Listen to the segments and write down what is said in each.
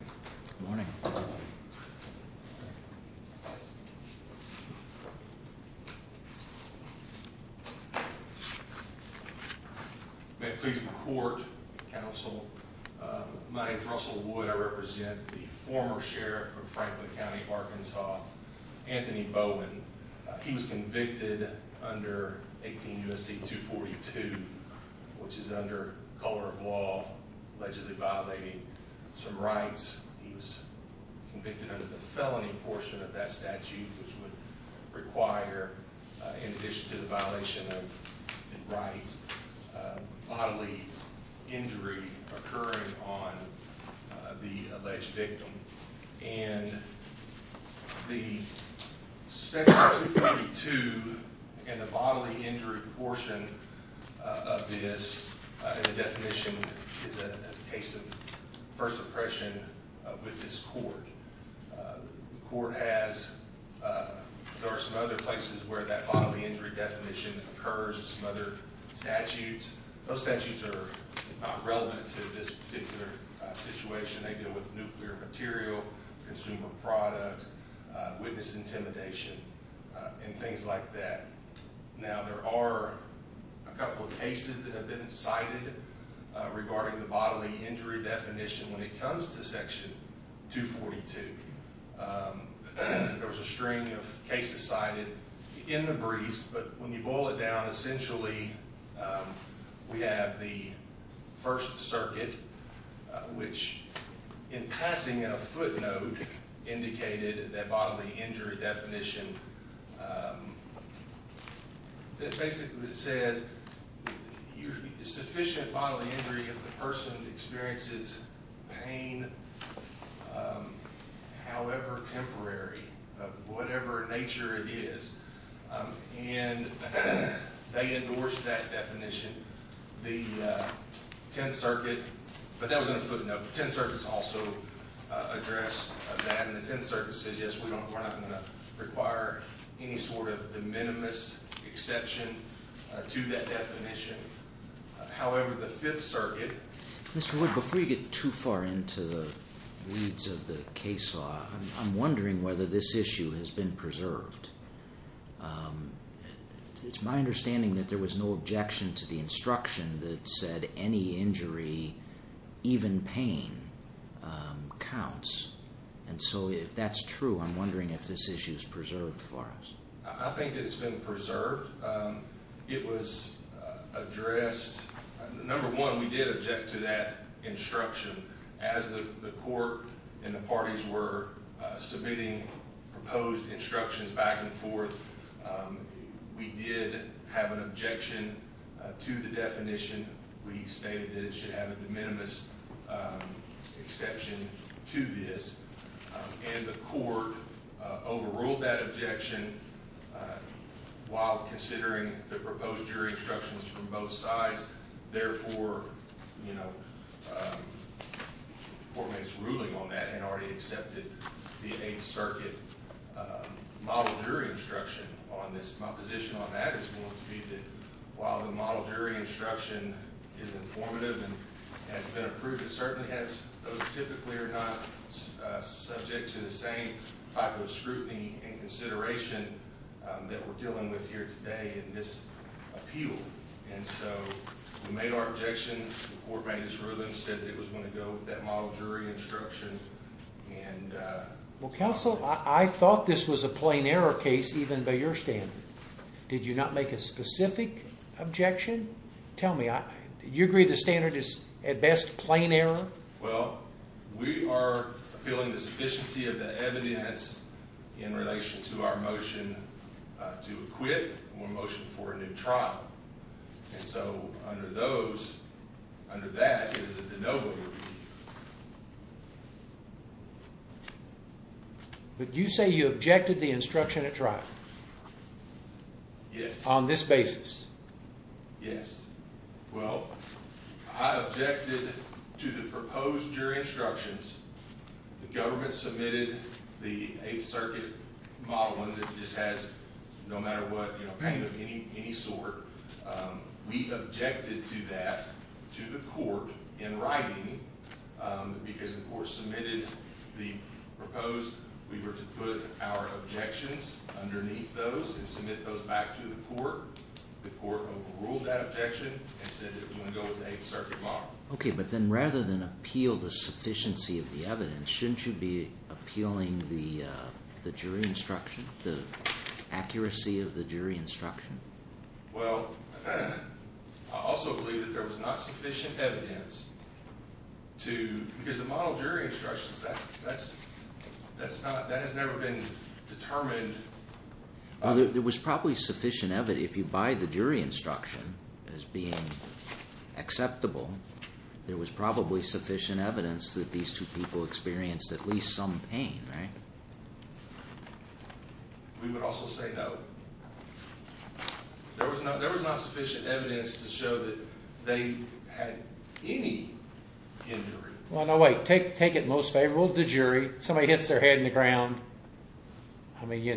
Good morning. May it please the court, counsel, my name is Russell Wood. I represent the former sheriff of Franklin County, Arkansas, Anthony Bowen. He was convicted under 18 U. S. C. 2 42, which is under color of law, allegedly violating some rights. He was convicted under the felony portion of that statute, which would require in addition to the violation of rights, bodily injury occurring on the alleged victim. And the first impression with this court court has, uh, there are some other places where that bodily injury definition occurs. Some other statutes. Those statutes are relevant to this particular situation. They deal with nuclear material, consumer product, witness intimidation and things like that. Now there are a couple of cases that have been cited regarding the definition when it comes to Section 2 42. Um, there was a string of cases cited in the briefs. But when you boil it down, essentially, um, we have the first circuit, which in passing in a footnote indicated that bodily injury definition. Um, it basically says usually sufficient bodily injury of the person experiences pain. Um, however, temporary of whatever nature it is. Um, and they endorsed that definition. The 10th Circuit. But that was in a footnote. 10 circuits also address that it's in services. Yes, we don't require any sort of the minimus exception to that definition. However, the Fifth Circuit, Mr Wood, before you get too far into the weeds of the case law, I'm wondering whether this issue has been preserved. Um, it's my understanding that there was no objection to the instruction that said any injury, even pain, um, counts. And so if that's true, I'm wondering if this issue is preserved for us. I think it's been preserved. It was addressed. Number one. We did object to that instruction as the court and the parties were submitting proposed instructions back and forth. Um, we did have an objection to the definition. We stated that it should have a de minimis, um, exception to this, and the court overruled that objection while considering the proposed jury instructions from both sides. Therefore, you know, four minutes ruling on that and already accepted the Eighth Circuit model jury instruction on this. My position on that is that while the model jury instruction is informative and has been approved, it certainly has those typically are not subject to the same type of scrutiny and consideration that we're dealing with here today in this appeal. And so we made our objections before made this ruling said that it was going to go with that model jury instruction. And, uh, well, counsel, I thought this was a plain error case, even by your stand. Did you not make a specific objection? Tell me you agree the standard is at best plain error. Well, we are feeling the sufficiency of the evidence in relation to our motion to quit motion for a new trial. And so under those under that is a no. But you say you objected the instruction to try Yes, on this basis. Yes. Well, I objected to the proposed jury instructions. Government submitted the Eighth Circuit model that just has no matter what, pain of any sort. We objected to that to the court in writing because the court submitted the proposed. We were to put our objections underneath those and submit those back to the court. The court ruled that objection and said that we want to go with the Eighth Circuit model. Okay, but then rather than appeal the sufficiency of the evidence, shouldn't you be appealing the jury instruction, the accuracy of the jury instruction? Well, I also believe that there was not sufficient evidence to because the model jury instructions that's that's that's not that has never been determined. There was probably sufficient evidence. If you buy the jury instruction as being acceptable, there was probably sufficient evidence that these two people experienced at least some pain, right? We would also say no. There was not. There was not sufficient evidence to show that they had any injury. Well, no way. Take take it. Most favorable to jury. Somebody hits their head in the ground. I mean, you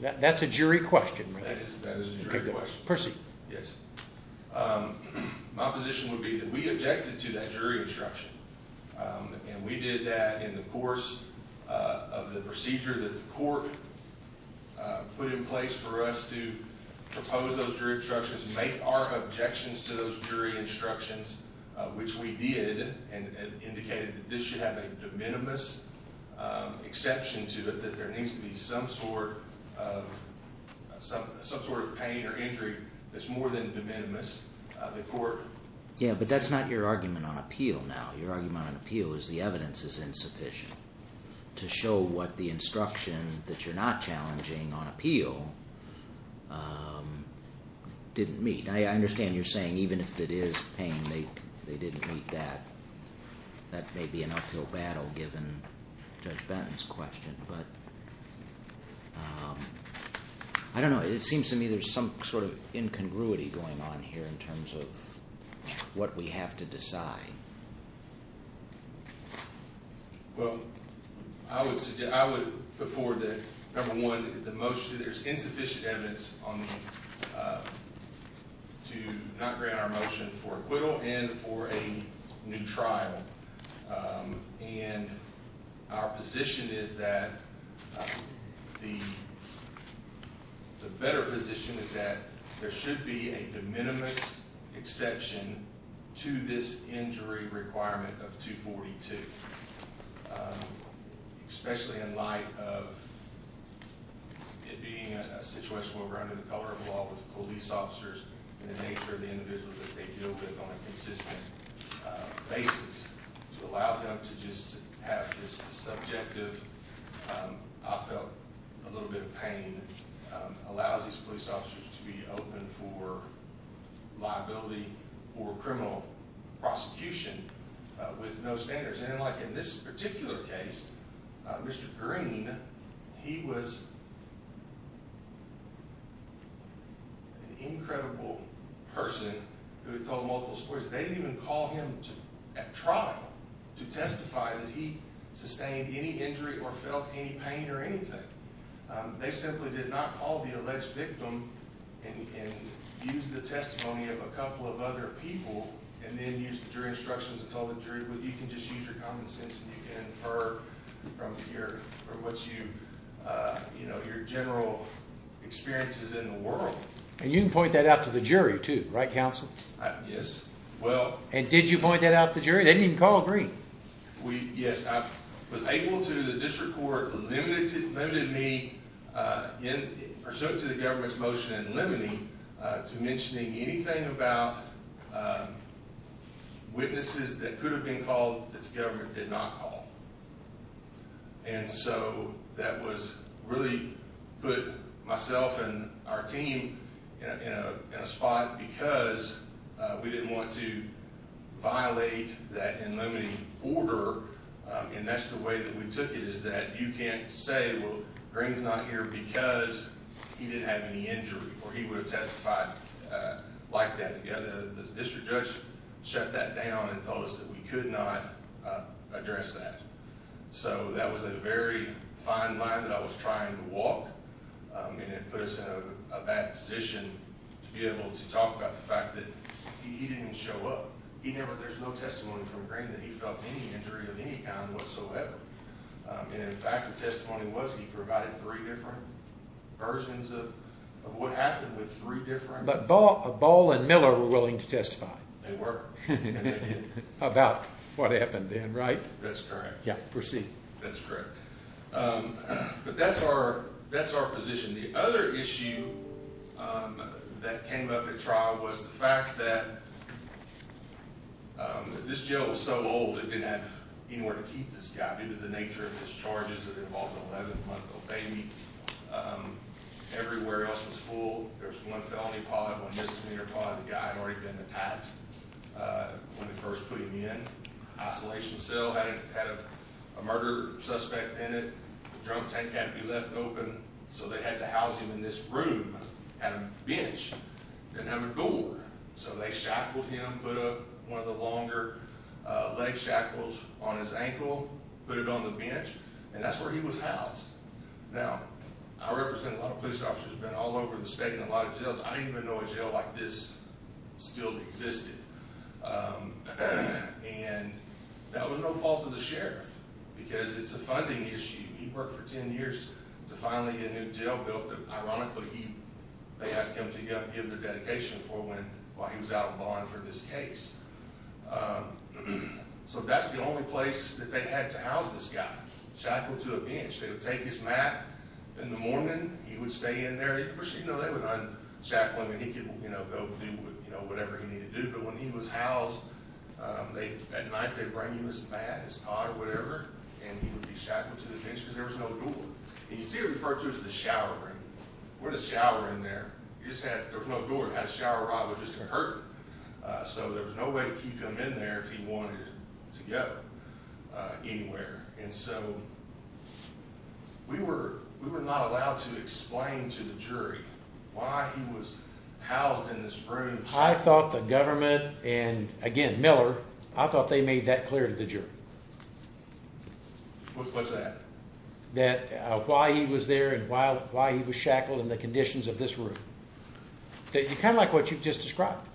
know, that's a jury question. Percy. Yes. My position would be that we objected to that jury instruction, and we did that in the course of the procedure that the court put in place for us to propose those jury instructions, make our objections to those jury instructions, which we did and indicated that this should have a de minimis exception to it, that there needs to be some sort of pain or injury that's more than de minimis the court. Yeah, but that's not your argument on appeal. Now, your argument on appeal is the evidence is insufficient to show what the instruction that you're not challenging on appeal didn't meet. I understand you're saying even if it is pain, they didn't meet that. That may be an uphill battle given Judge Benton's question, but I don't know. It seems to me there's some sort of incongruity going on here in terms of what we have to decide. Well, I would I would before that number one, the most there's insufficient evidence on to not grant our motion for acquittal and for a new trial. And our position is that the better position is that there should be a de minimis exception to this injury requirement of 2 42, especially in light of it being a situation where we're under the color of law with police officers in the nature of the individuals that they deal with on a consistent basis to allow them to just have this subjective. I felt a little bit of pain allows these police officers to be open for liability or criminal prosecution with no standards. And like in this particular case, Mr Green, he was incredible person who told multiple stories. They didn't even call him to try to testify that he sustained any injury or felt any pain or anything. They simply did not call the alleged victim and use the testimony of a couple of other people and then use the jury instructions. It's all the jury. But you can just use your common sense and you can infer from your or what you, uh, you know, your general experiences in the world. And you can point that out to the jury to write counsel. Yes. Well, and did you point that out the jury? They didn't call green. We Yes, I was able to. The district court limited limited me in pursuit to the government's motion and limiting to mentioning anything about witnesses that could have been called that the government did not call. And so that was really put myself and our team in a spot because we didn't want to violate that limiting order. And that's the way that we took it is that you can't say, Well, Green's not here because he didn't have any injury or he would have testified like that. The district judge shut that down and told us that we could not address that. So that was a very fine line that I was trying to walk. Um, and it puts a bad position to be able to talk about the fact that he didn't show up. He never. There's no testimony from Green that he felt any injury of any kind whatsoever. Um, and in fact, the testimony was he provided three different versions of what happened with three different. But ball ball and Miller were willing to testify. They were about what happened then, right? That's correct. Yeah, proceed. That's correct. Um, but that's our that's our position. The other issue, um, that came up at trial was the fact that um, this jail is so old, it didn't have anywhere to keep this guy due to the nature of his charges that involved 11 month old baby. Um, everywhere else was full. There's one felony pod, one misdemeanor pod. The guy had already been attacked. Uh, when we first put him in isolation cell had a murder suspect in it. Drunk tank had to be left open. So they had to house him in this room at a bench and have a door. So they shackled him, put up one of the longer leg shackles on his ankle, put it on the bench and that's where he was housed. Now I represent a lot of police officers been all over the state and a lot of jails. I didn't even know a jail like this still existed. Um, and that was no fault of the sheriff because it's a funding issue. He worked for 10 years to finally a new jail built. Ironically, they asked him to give the dedication for when, while he was out of bond for this case. Um, so that's the only place that they had to house this guy shackled to a bench. They would take his mat in the morning, he would stay in there, you know, they would unshackle him and he could, you know, go do, you know, whatever he needed to do. But when he was housed, um, they at night they bring you as bad as pot or you see referred to as the shower. We're just showering there. You said there's no door had a shower. I was just hurt. Uh, so there's no way to keep them in there if he wanted to go anywhere. And so we were, we were not allowed to explain to the jury why he was housed in the spring. I thought the government and again, Miller, I thought they made that clear to the jury. Mhm. What's that? That why he was there and why, why he was shackled in the conditions of this room. Okay. You kind of like what you've just described,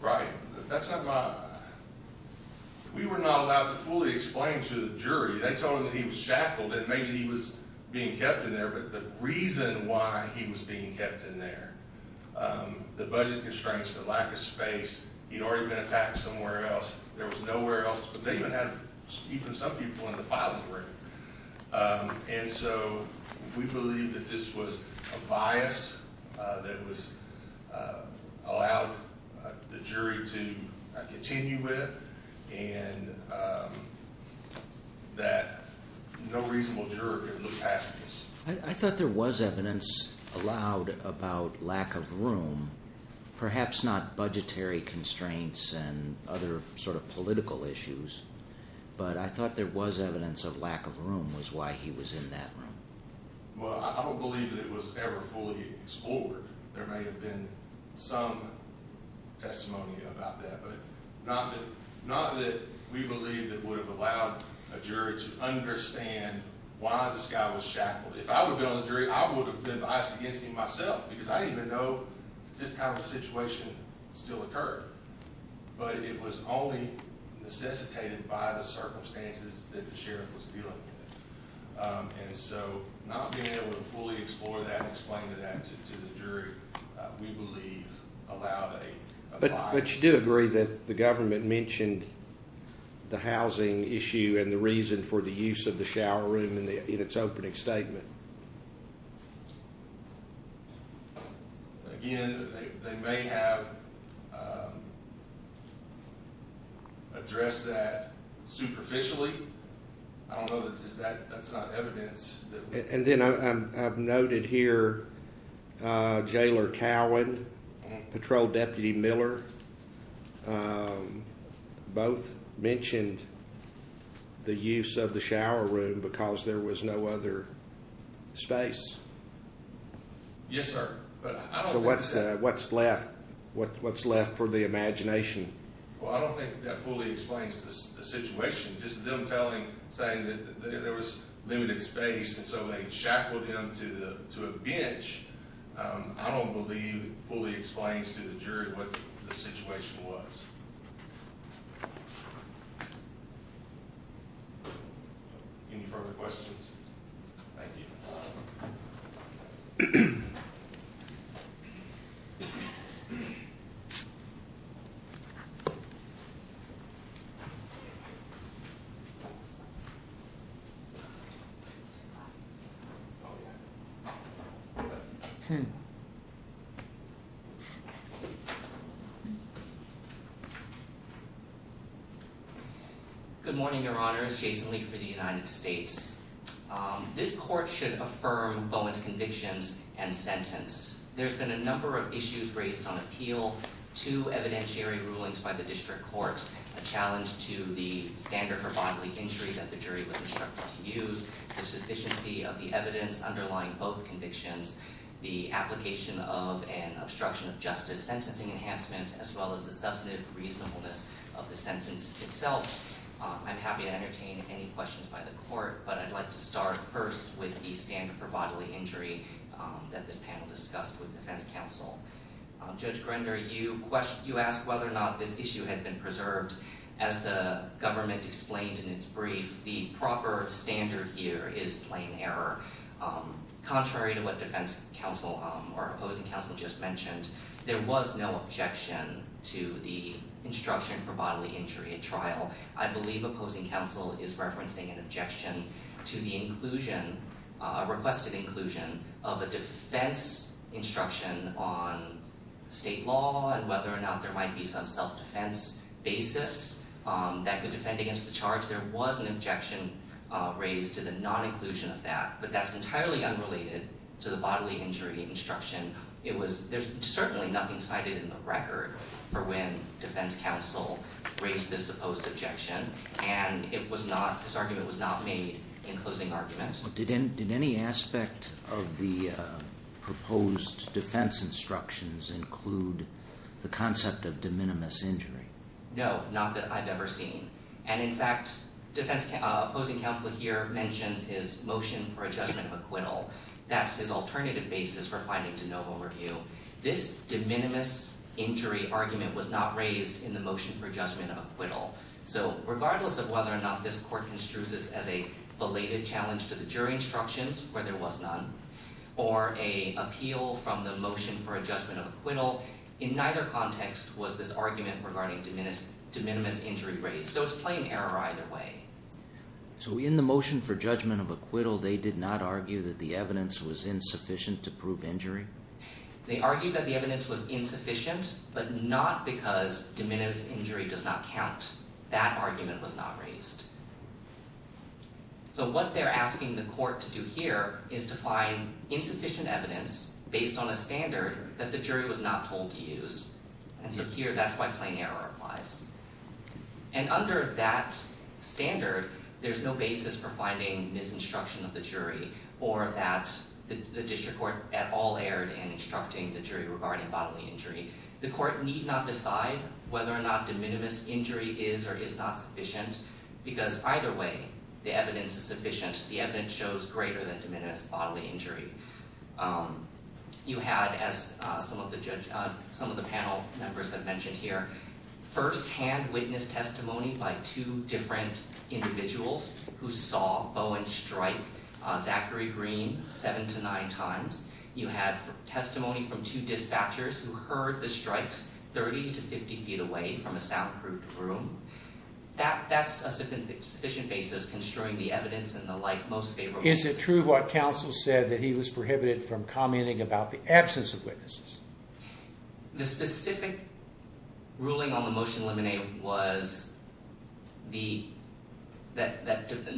right? That's not mine. We were not allowed to fully explain to the jury. They told him that he was shackled and maybe he was being kept in there. But the reason why he was being kept in there, um, the budget constraints, the lack of space, he'd already been attacked somewhere else. There was nowhere else. They even had even some people in the filing room. Um, and so we believe that this was a bias that was, uh, allowed the jury to continue with and, um, that no reasonable juror could look past this. I thought there was evidence allowed about lack of room, perhaps not budgetary constraints and other sort of I thought there was evidence of lack of room was why he was in that room. Well, I don't believe that it was ever fully explored. There may have been some testimony about that, but not that not that we believe that would have allowed a jury to understand why this guy was shackled. If I would have been on the jury, I would have been biased against him myself because I didn't even know this kind of situation still occurred. But it was only necessitated by the circumstances that the sheriff was dealing with. Um, and so not being able to fully explore that and explain to that to the jury, we believe allowed a but you do agree that the government mentioned the housing issue and the reason for the use of the shower room in the in its opening statement. Again, they may have, um, address that superficially. I don't know that that's not evidence. And then I've noted here, uh, jailer Cowan patrol deputy Miller. Um, both mentioned the use of the shower room because there was no other space. Yes, sir. But what's what's left? What's left for the imagination? Well, I don't think that fully explains the situation. Just them telling saying that there was limited space. And so they shackled him to a bench. I don't believe fully explains to the jury what the situation was. Any further questions? Mhm. Okay. Good morning, Your Honor. It's Jason Lee for the United States. Um, this court should affirm Bowen's convictions and sentence. There's been a number of issues raised on appeal to evidentiary rulings by the district court. A challenge to the standard for bodily injury that the jury was instructed to use the sufficiency of the evidence underlying both convictions, the application of an obstruction of justice, sentencing enhancement as well as the substantive reasonableness of the sentence itself. I'm happy to with the standard for bodily injury that this panel discussed with defense counsel. Judge Grinder, you question you ask whether or not this issue had been preserved as the government explained in its brief. The proper standard here is plain error. Um, contrary to what defense counsel or opposing counsel just mentioned, there was no objection to the instruction for bodily injury at trial. I believe opposing counsel is referencing an inclusion requested inclusion of a defense instruction on state law and whether or not there might be some self defense basis, um, that could defend against the charge. There was an objection raised to the non inclusion of that, but that's entirely unrelated to the bodily injury instruction. It was. There's certainly nothing cited in the record for when defense counsel raised this supposed objection, and it was not. This argument was not made in argument. Did any did any aspect of the proposed defense instructions include the concept of de minimis injury? No, not that I've ever seen. And in fact, defense opposing counsel here mentions his motion for a judgment of acquittal. That's his alternative basis for finding to no overview. This de minimis injury argument was not raised in the motion for judgment of acquittal. So regardless of whether or not this court construes this as a related challenge to the jury instructions where there was none or a appeal from the motion for a judgment of acquittal in neither context was this argument regarding de minimis de minimis injury raised. So it's plain error either way. So in the motion for judgment of acquittal, they did not argue that the evidence was insufficient to prove injury. They argued that the evidence was insufficient, but not because de minimis injury does not raised. So what they're asking the court to do here is to find insufficient evidence based on a standard that the jury was not told to use. And so here that's why plain error applies. And under that standard, there's no basis for finding misinstruction of the jury or that the district court at all erred in instructing the jury regarding bodily injury. The court need not decide whether or not de minimis injury is or is not sufficient, because either way the evidence is sufficient. The evidence shows greater than de minimis bodily injury. You had, as some of the panel members have mentioned here, firsthand witness testimony by two different individuals who saw Bowen strike Zachary Green seven to nine times. You had testimony from two dispatchers who heard the strikes 30 to 50 feet away from a soundproofed room. That's a sufficient basis construing the evidence and the like most favorable. Is it true what counsel said that he was prohibited from commenting about the absence of witnesses? The specific ruling on the motion eliminated was that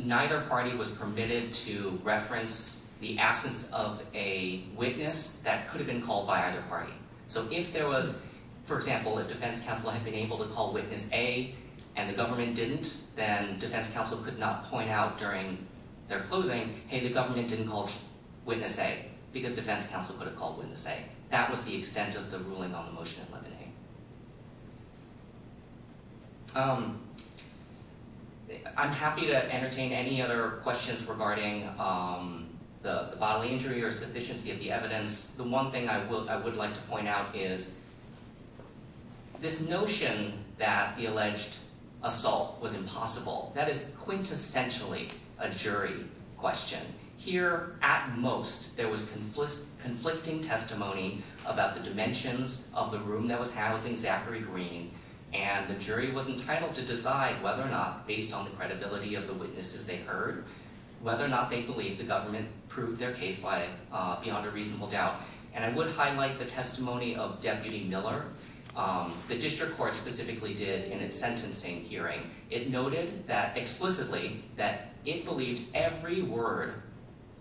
neither party was permitted to reference the absence of a witness that could have been called by either party. So if there was, for example, a defense counsel had been able to call witness A and the government didn't, then defense counsel could not point out during their closing, hey the government didn't call witness A, because defense counsel could have called witness A. That was the extent of the ruling on the motion eliminated. I'm happy to entertain any other questions regarding the bodily injury or sufficiency of the evidence. The one thing I would like to point out is this notion that the alleged assault was impossible, that is quintessentially a jury question. Here, at most, there was conflicting testimony about the dimensions of the room that was housing Zachary Green, and the jury was entitled to decide whether or not, based on the credibility of the witnesses they heard, whether or not they believe the testimony of Deputy Miller. The district court specifically did, in its sentencing hearing, it noted that explicitly that it believed every word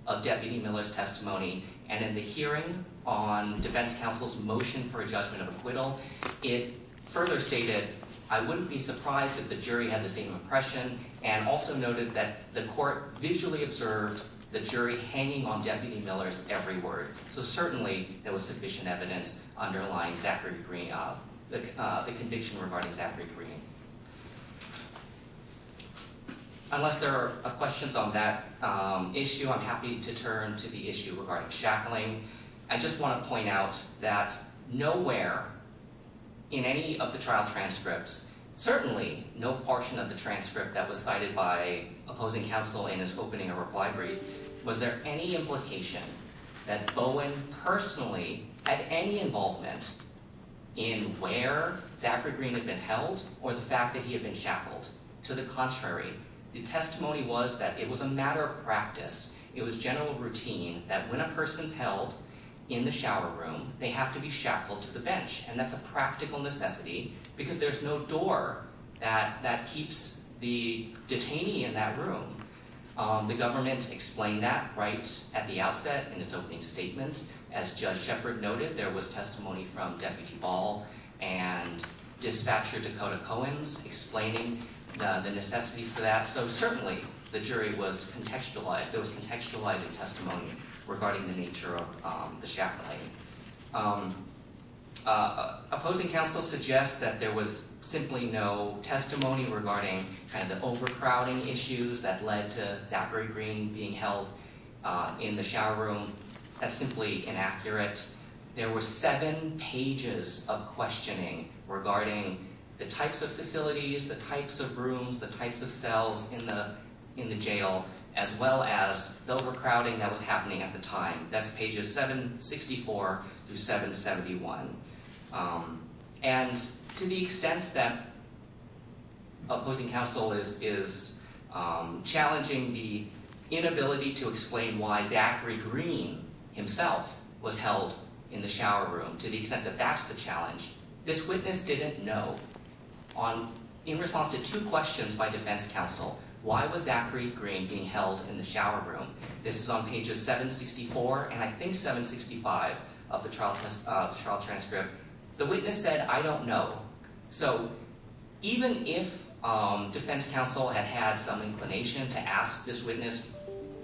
of Deputy Miller's testimony, and in the hearing on defense counsel's motion for a judgment of acquittal, it further stated, I wouldn't be surprised if the jury had the same impression, and also noted that the court visually observed the jury hanging on Deputy Miller's every word. So certainly there was sufficient evidence underlying Zachary Green, the conviction regarding Zachary Green. Unless there are questions on that issue, I'm happy to turn to the issue regarding shackling. I just want to point out that nowhere in any of the trial transcripts, certainly no portion of the transcript that was cited by the jury, was there any implication that Bowen personally had any involvement in where Zachary Green had been held, or the fact that he had been shackled. To the contrary, the testimony was that it was a matter of practice, it was general routine, that when a person's held in the shower room, they have to be shackled to the bench, and that's a practical necessity, because there's no door that would explain that right at the outset in its opening statement. As Judge Sheppard noted, there was testimony from Deputy Ball and Dispatcher Dakota Cohen's explaining the necessity for that. So certainly the jury was contextualized, there was contextualizing testimony regarding the nature of the shackling. Opposing counsel suggests that there was simply no testimony regarding kind of overcrowding issues that led to Zachary Green being held in the shower room. That's simply inaccurate. There were seven pages of questioning regarding the types of facilities, the types of rooms, the types of cells in the in the jail, as well as the overcrowding that was happening at the time. That's pages 764 through 771. And to the extent that opposing counsel is challenging the inability to explain why Zachary Green himself was held in the shower room, to the extent that that's the challenge, this witness didn't know, in response to two questions by defense counsel, why was Zachary Green being held in the shower room, which is page 765 of the trial transcript, the witness said, I don't know. So even if defense counsel had had some inclination to ask this witness,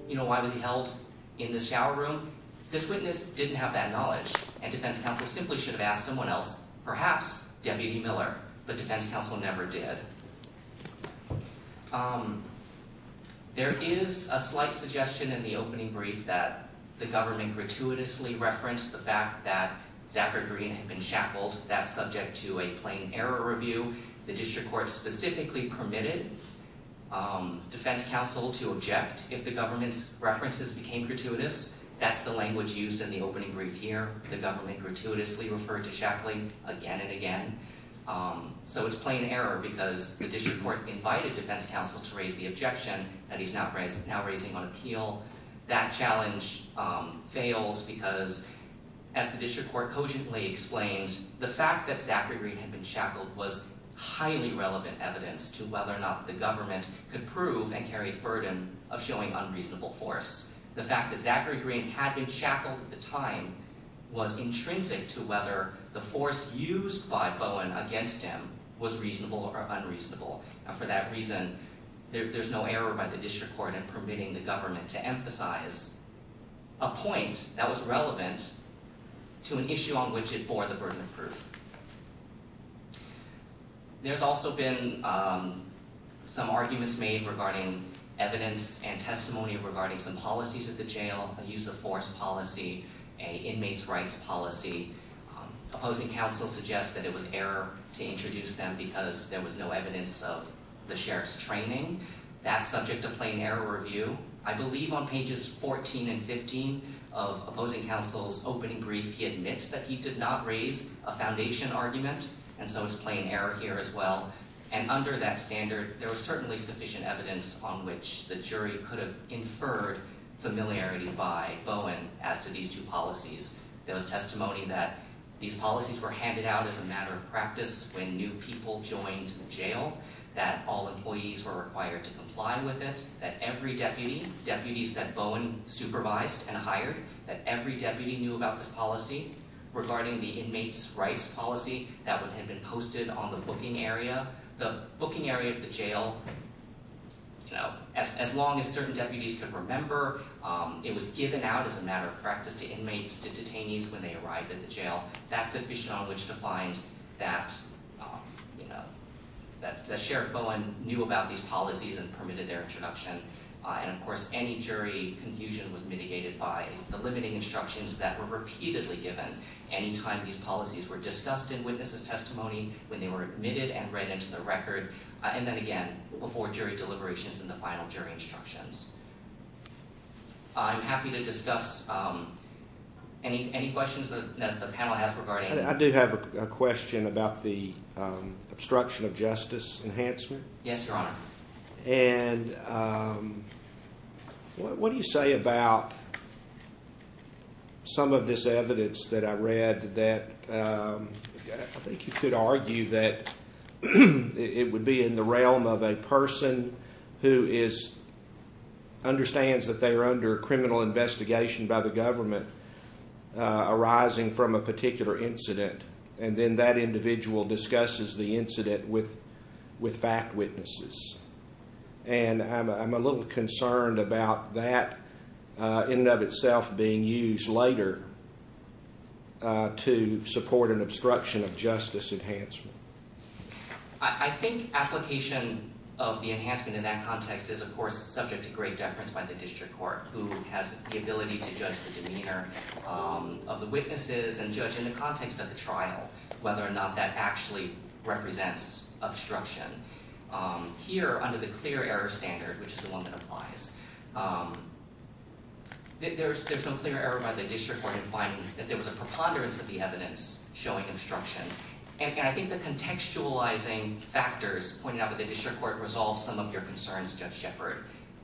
you know, why was he held in the shower room, this witness didn't have that knowledge and defense counsel simply should have asked someone else, perhaps Deputy Miller, but defense counsel never did. There is a slight suggestion in the opening brief that the government gratuitously referenced the fact that Zachary Green had been shackled. That's subject to a plain error review. The district court specifically permitted defense counsel to object if the government's references became gratuitous. That's the language used in the opening brief here. The government gratuitously referred to shackling again and again. So it's plain error because the district court invited defense counsel to raise the objection that he's now raising on appeal. That challenge fails because, as the district court cogently explained, the fact that Zachary Green had been shackled was highly relevant evidence to whether or not the government could prove and carry the burden of showing unreasonable force. The fact that Zachary Green had been shackled at the time was intrinsic to whether the force used by Bowen against him was reasonable or unreasonable. For that reason, there's no error by the district court in permitting the government to emphasize a point that was relevant to an issue on which it bore the burden of proof. There's also been some arguments made regarding evidence and testimony regarding some policies at the jail, a use-of-force policy, an inmates' rights policy. Opposing counsel suggests that it was error to introduce them because there was no evidence of the sheriff's training. That's subject to plain error review. I believe on pages 14 and 15 of opposing counsel's opening brief he admits that he did not raise a foundation argument, and so it's plain error here as well. And under that standard, there was certainly sufficient evidence on which the jury could have inferred familiarity by Bowen as to these two policies. There was testimony that these policies were handed out as a matter of practice to inmates when they arrived at the jail, that all employees were required to comply with it, that every deputy, deputies that Bowen supervised and hired, that every deputy knew about this policy regarding the inmates' rights policy that would have been posted on the booking area. The booking area of the jail, you know, as long as certain deputies could remember, it was given out as a matter of practice to inmates, to detainees when they arrived at the jail. That's sufficient on which to find that that Sheriff Bowen knew about these policies and permitted their introduction, and of course any jury confusion was mitigated by the limiting instructions that were repeatedly given any time these policies were discussed in witnesses testimony, when they were admitted and read into the record, and then again before jury deliberations and the final jury instructions. I'm happy to discuss any questions that the panel has regarding. I do have a question about the obstruction of justice enhancement. Yes, your honor. And what do you say about some of this evidence that I read that I think you could argue that it would be in the realm of a person who is, understands that they are under criminal investigation by the government, arising from a particular incident, and then that individual discusses the incident with fact witnesses. And I'm a little concerned about that in and of itself being used later to support an obstruction of justice enhancement. I think application of the enhancement in that context is of course subject to great deference by the district court, who has the ability to judge the demeanor of the witnesses and judge in context of the trial whether or not that actually represents obstruction. Here, under the clear error standard, which is the one that applies, there's there's no clear error by the district court in finding that there was a preponderance of the evidence showing obstruction. And I think the contextualizing factors pointed out by the district court resolve some of your concerns, Judge Shepard.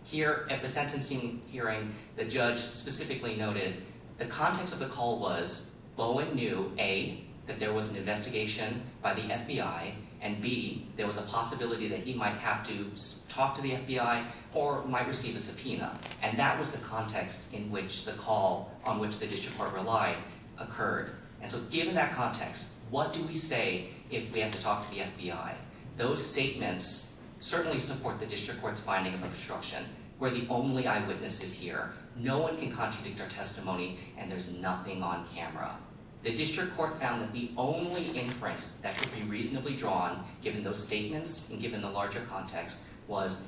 Here at the sentencing hearing, the judge specifically noted the context of the call was Bowen knew, A, that there was an investigation by the FBI, and B, there was a possibility that he might have to talk to the FBI or might receive a subpoena. And that was the context in which the call on which the district court relied occurred. And so given that context, what do we say if we have to talk to the FBI? Those statements certainly support the district court's finding of obstruction, where the only eyewitness is here. No one can contradict our testimony, and there's nothing on camera. The district court found that the only inference that could be reasonably drawn, given those statements and given the larger context, was,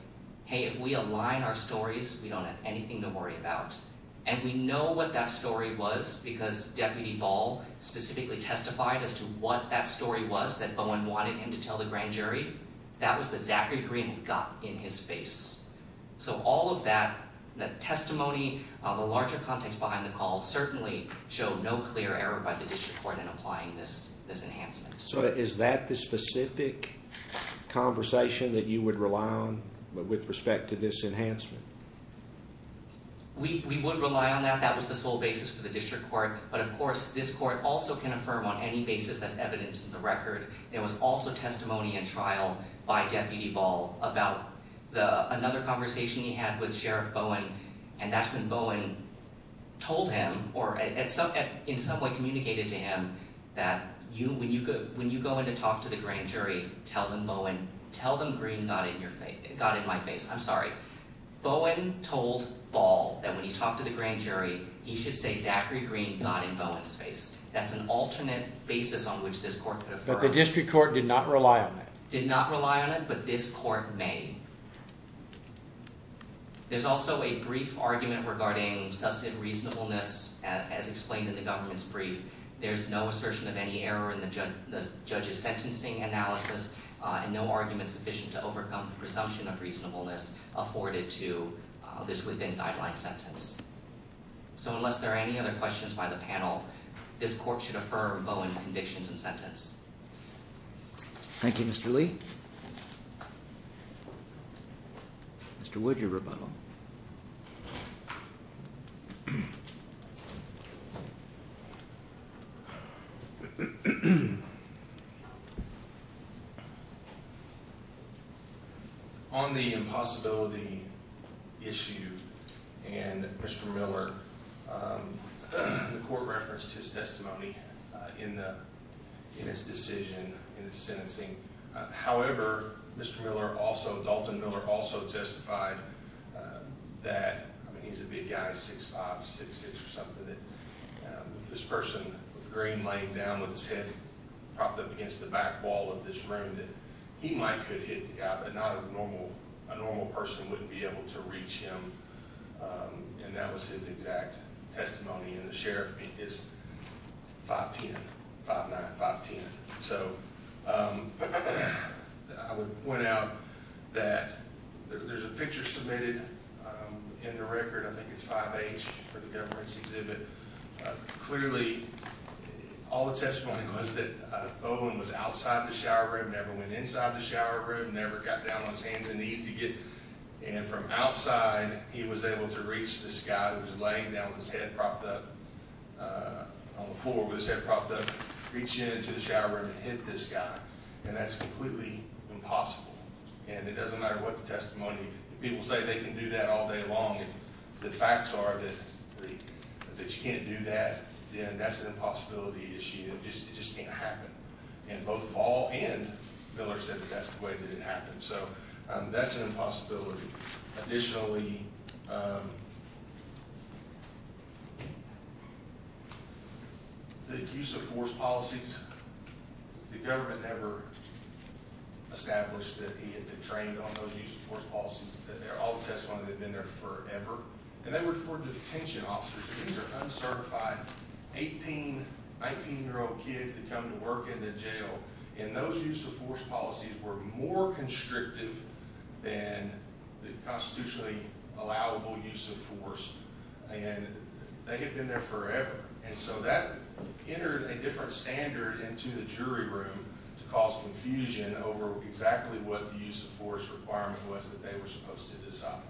hey, if we align our stories, we don't have anything to worry about. And we know what that story was because Deputy Ball specifically testified as to what that story was that Bowen wanted him to tell the grand jury. That was the Zachary Green gut in his face. So all of that testimony, the larger context behind the call, certainly showed no clear error by the district court in applying this enhancement. So is that the specific conversation that you would rely on with respect to this enhancement? We would rely on that. That was the sole basis for the district court. But of course, this court also can affirm on any basis that's evident in the record. There was also testimony in trial by Deputy Ball about another conversation he had with Sheriff Bowen, and that's when Bowen told him, or in some way communicated to him, that when you go in to talk to the grand jury, tell them Bowen, tell them Green got in my face. I'm sorry. Bowen told Ball that when he talked to the grand jury, he should say Zachary Green got in Bowen's face. That's an alternate basis on which this court could affirm. But the district court did not rely on that? Did not rely on it, but this is also a brief argument regarding substantive reasonableness, as explained in the government's brief. There's no assertion of any error in the judge's sentencing analysis, and no argument sufficient to overcome the presumption of reasonableness afforded to this within-guideline sentence. So unless there are any other questions by the panel, this court should affirm Bowen's convictions and sentence. Thank you, Mr. Lee. Mr. Wood, your rebuttal. On the impossibility issue, and Mr. Miller, the court referenced his testimony. However, Mr. Miller also, Dalton Miller also testified that, I mean he's a big guy, 6'5", 6'6", or something, that this person with Green laying down with his head propped up against the back wall of this room, that he might could hit the guy, but not a normal, a normal person wouldn't be able to reach him. And that was his exact testimony, and the sheriff beat his 5'10", 5'9", 5'10". So, I would point out that there's a picture submitted in the record, I think it's 5H for the government's exhibit. Clearly, all the testimony was that Bowen was outside the shower room, never went inside the shower room, never got down on his hands and knees to get, and from outside he was able to reach this guy who's laying down with his head propped up, on the floor with his head propped up, reach into the shower room, hit this guy, and that's completely impossible. And it doesn't matter what the testimony, if people say they can do that all day long, if the facts are that you can't do that, then that's an impossibility issue, it just can't happen. And both Ball and Miller said that that's the way that it happened. So, that's an impossibility. Additionally, the use of force policies, the government never established that he had been trained on those use of force policies, that they're all testimony that had been there forever, and they were for detention officers, because they're uncertified, 18, 19 year old kids that come to work in the jail, and those use force policies were more constrictive than the constitutionally allowable use of force, and they had been there forever, and so that entered a different standard into the jury room to cause confusion over exactly what the use of force requirement was that they were supposed to decide.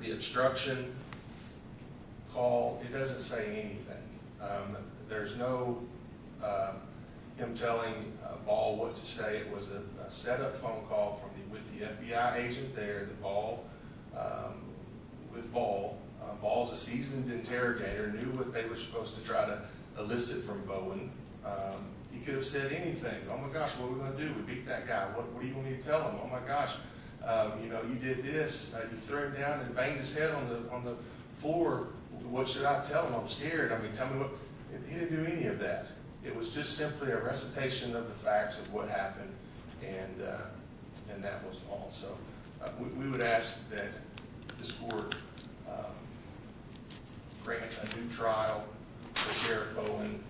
The obstruction call, he doesn't say anything. There's no him telling Ball what to say. It was a set up phone call with the FBI agent there, with Ball. Ball's a seasoned interrogator, knew what they were supposed to try to elicit from Bowen. He could have said anything. Oh my gosh, what are we going to do? We beat that guy. What do you want me to tell him? Oh my gosh, you know, you did this, you threw him down and banged his head on the floor. What should I tell him? I'm scared. I mean, tell me what? He didn't do any of that. It was just simply a recitation of the facts of what happened, and that was all. So we would ask that this court grant a new trial for Bowen.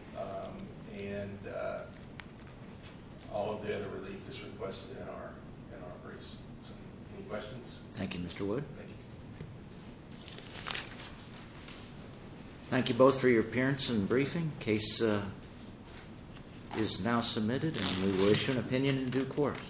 Thank you both for your appearance and briefing. Case is now submitted, and we will issue an opinion in due course.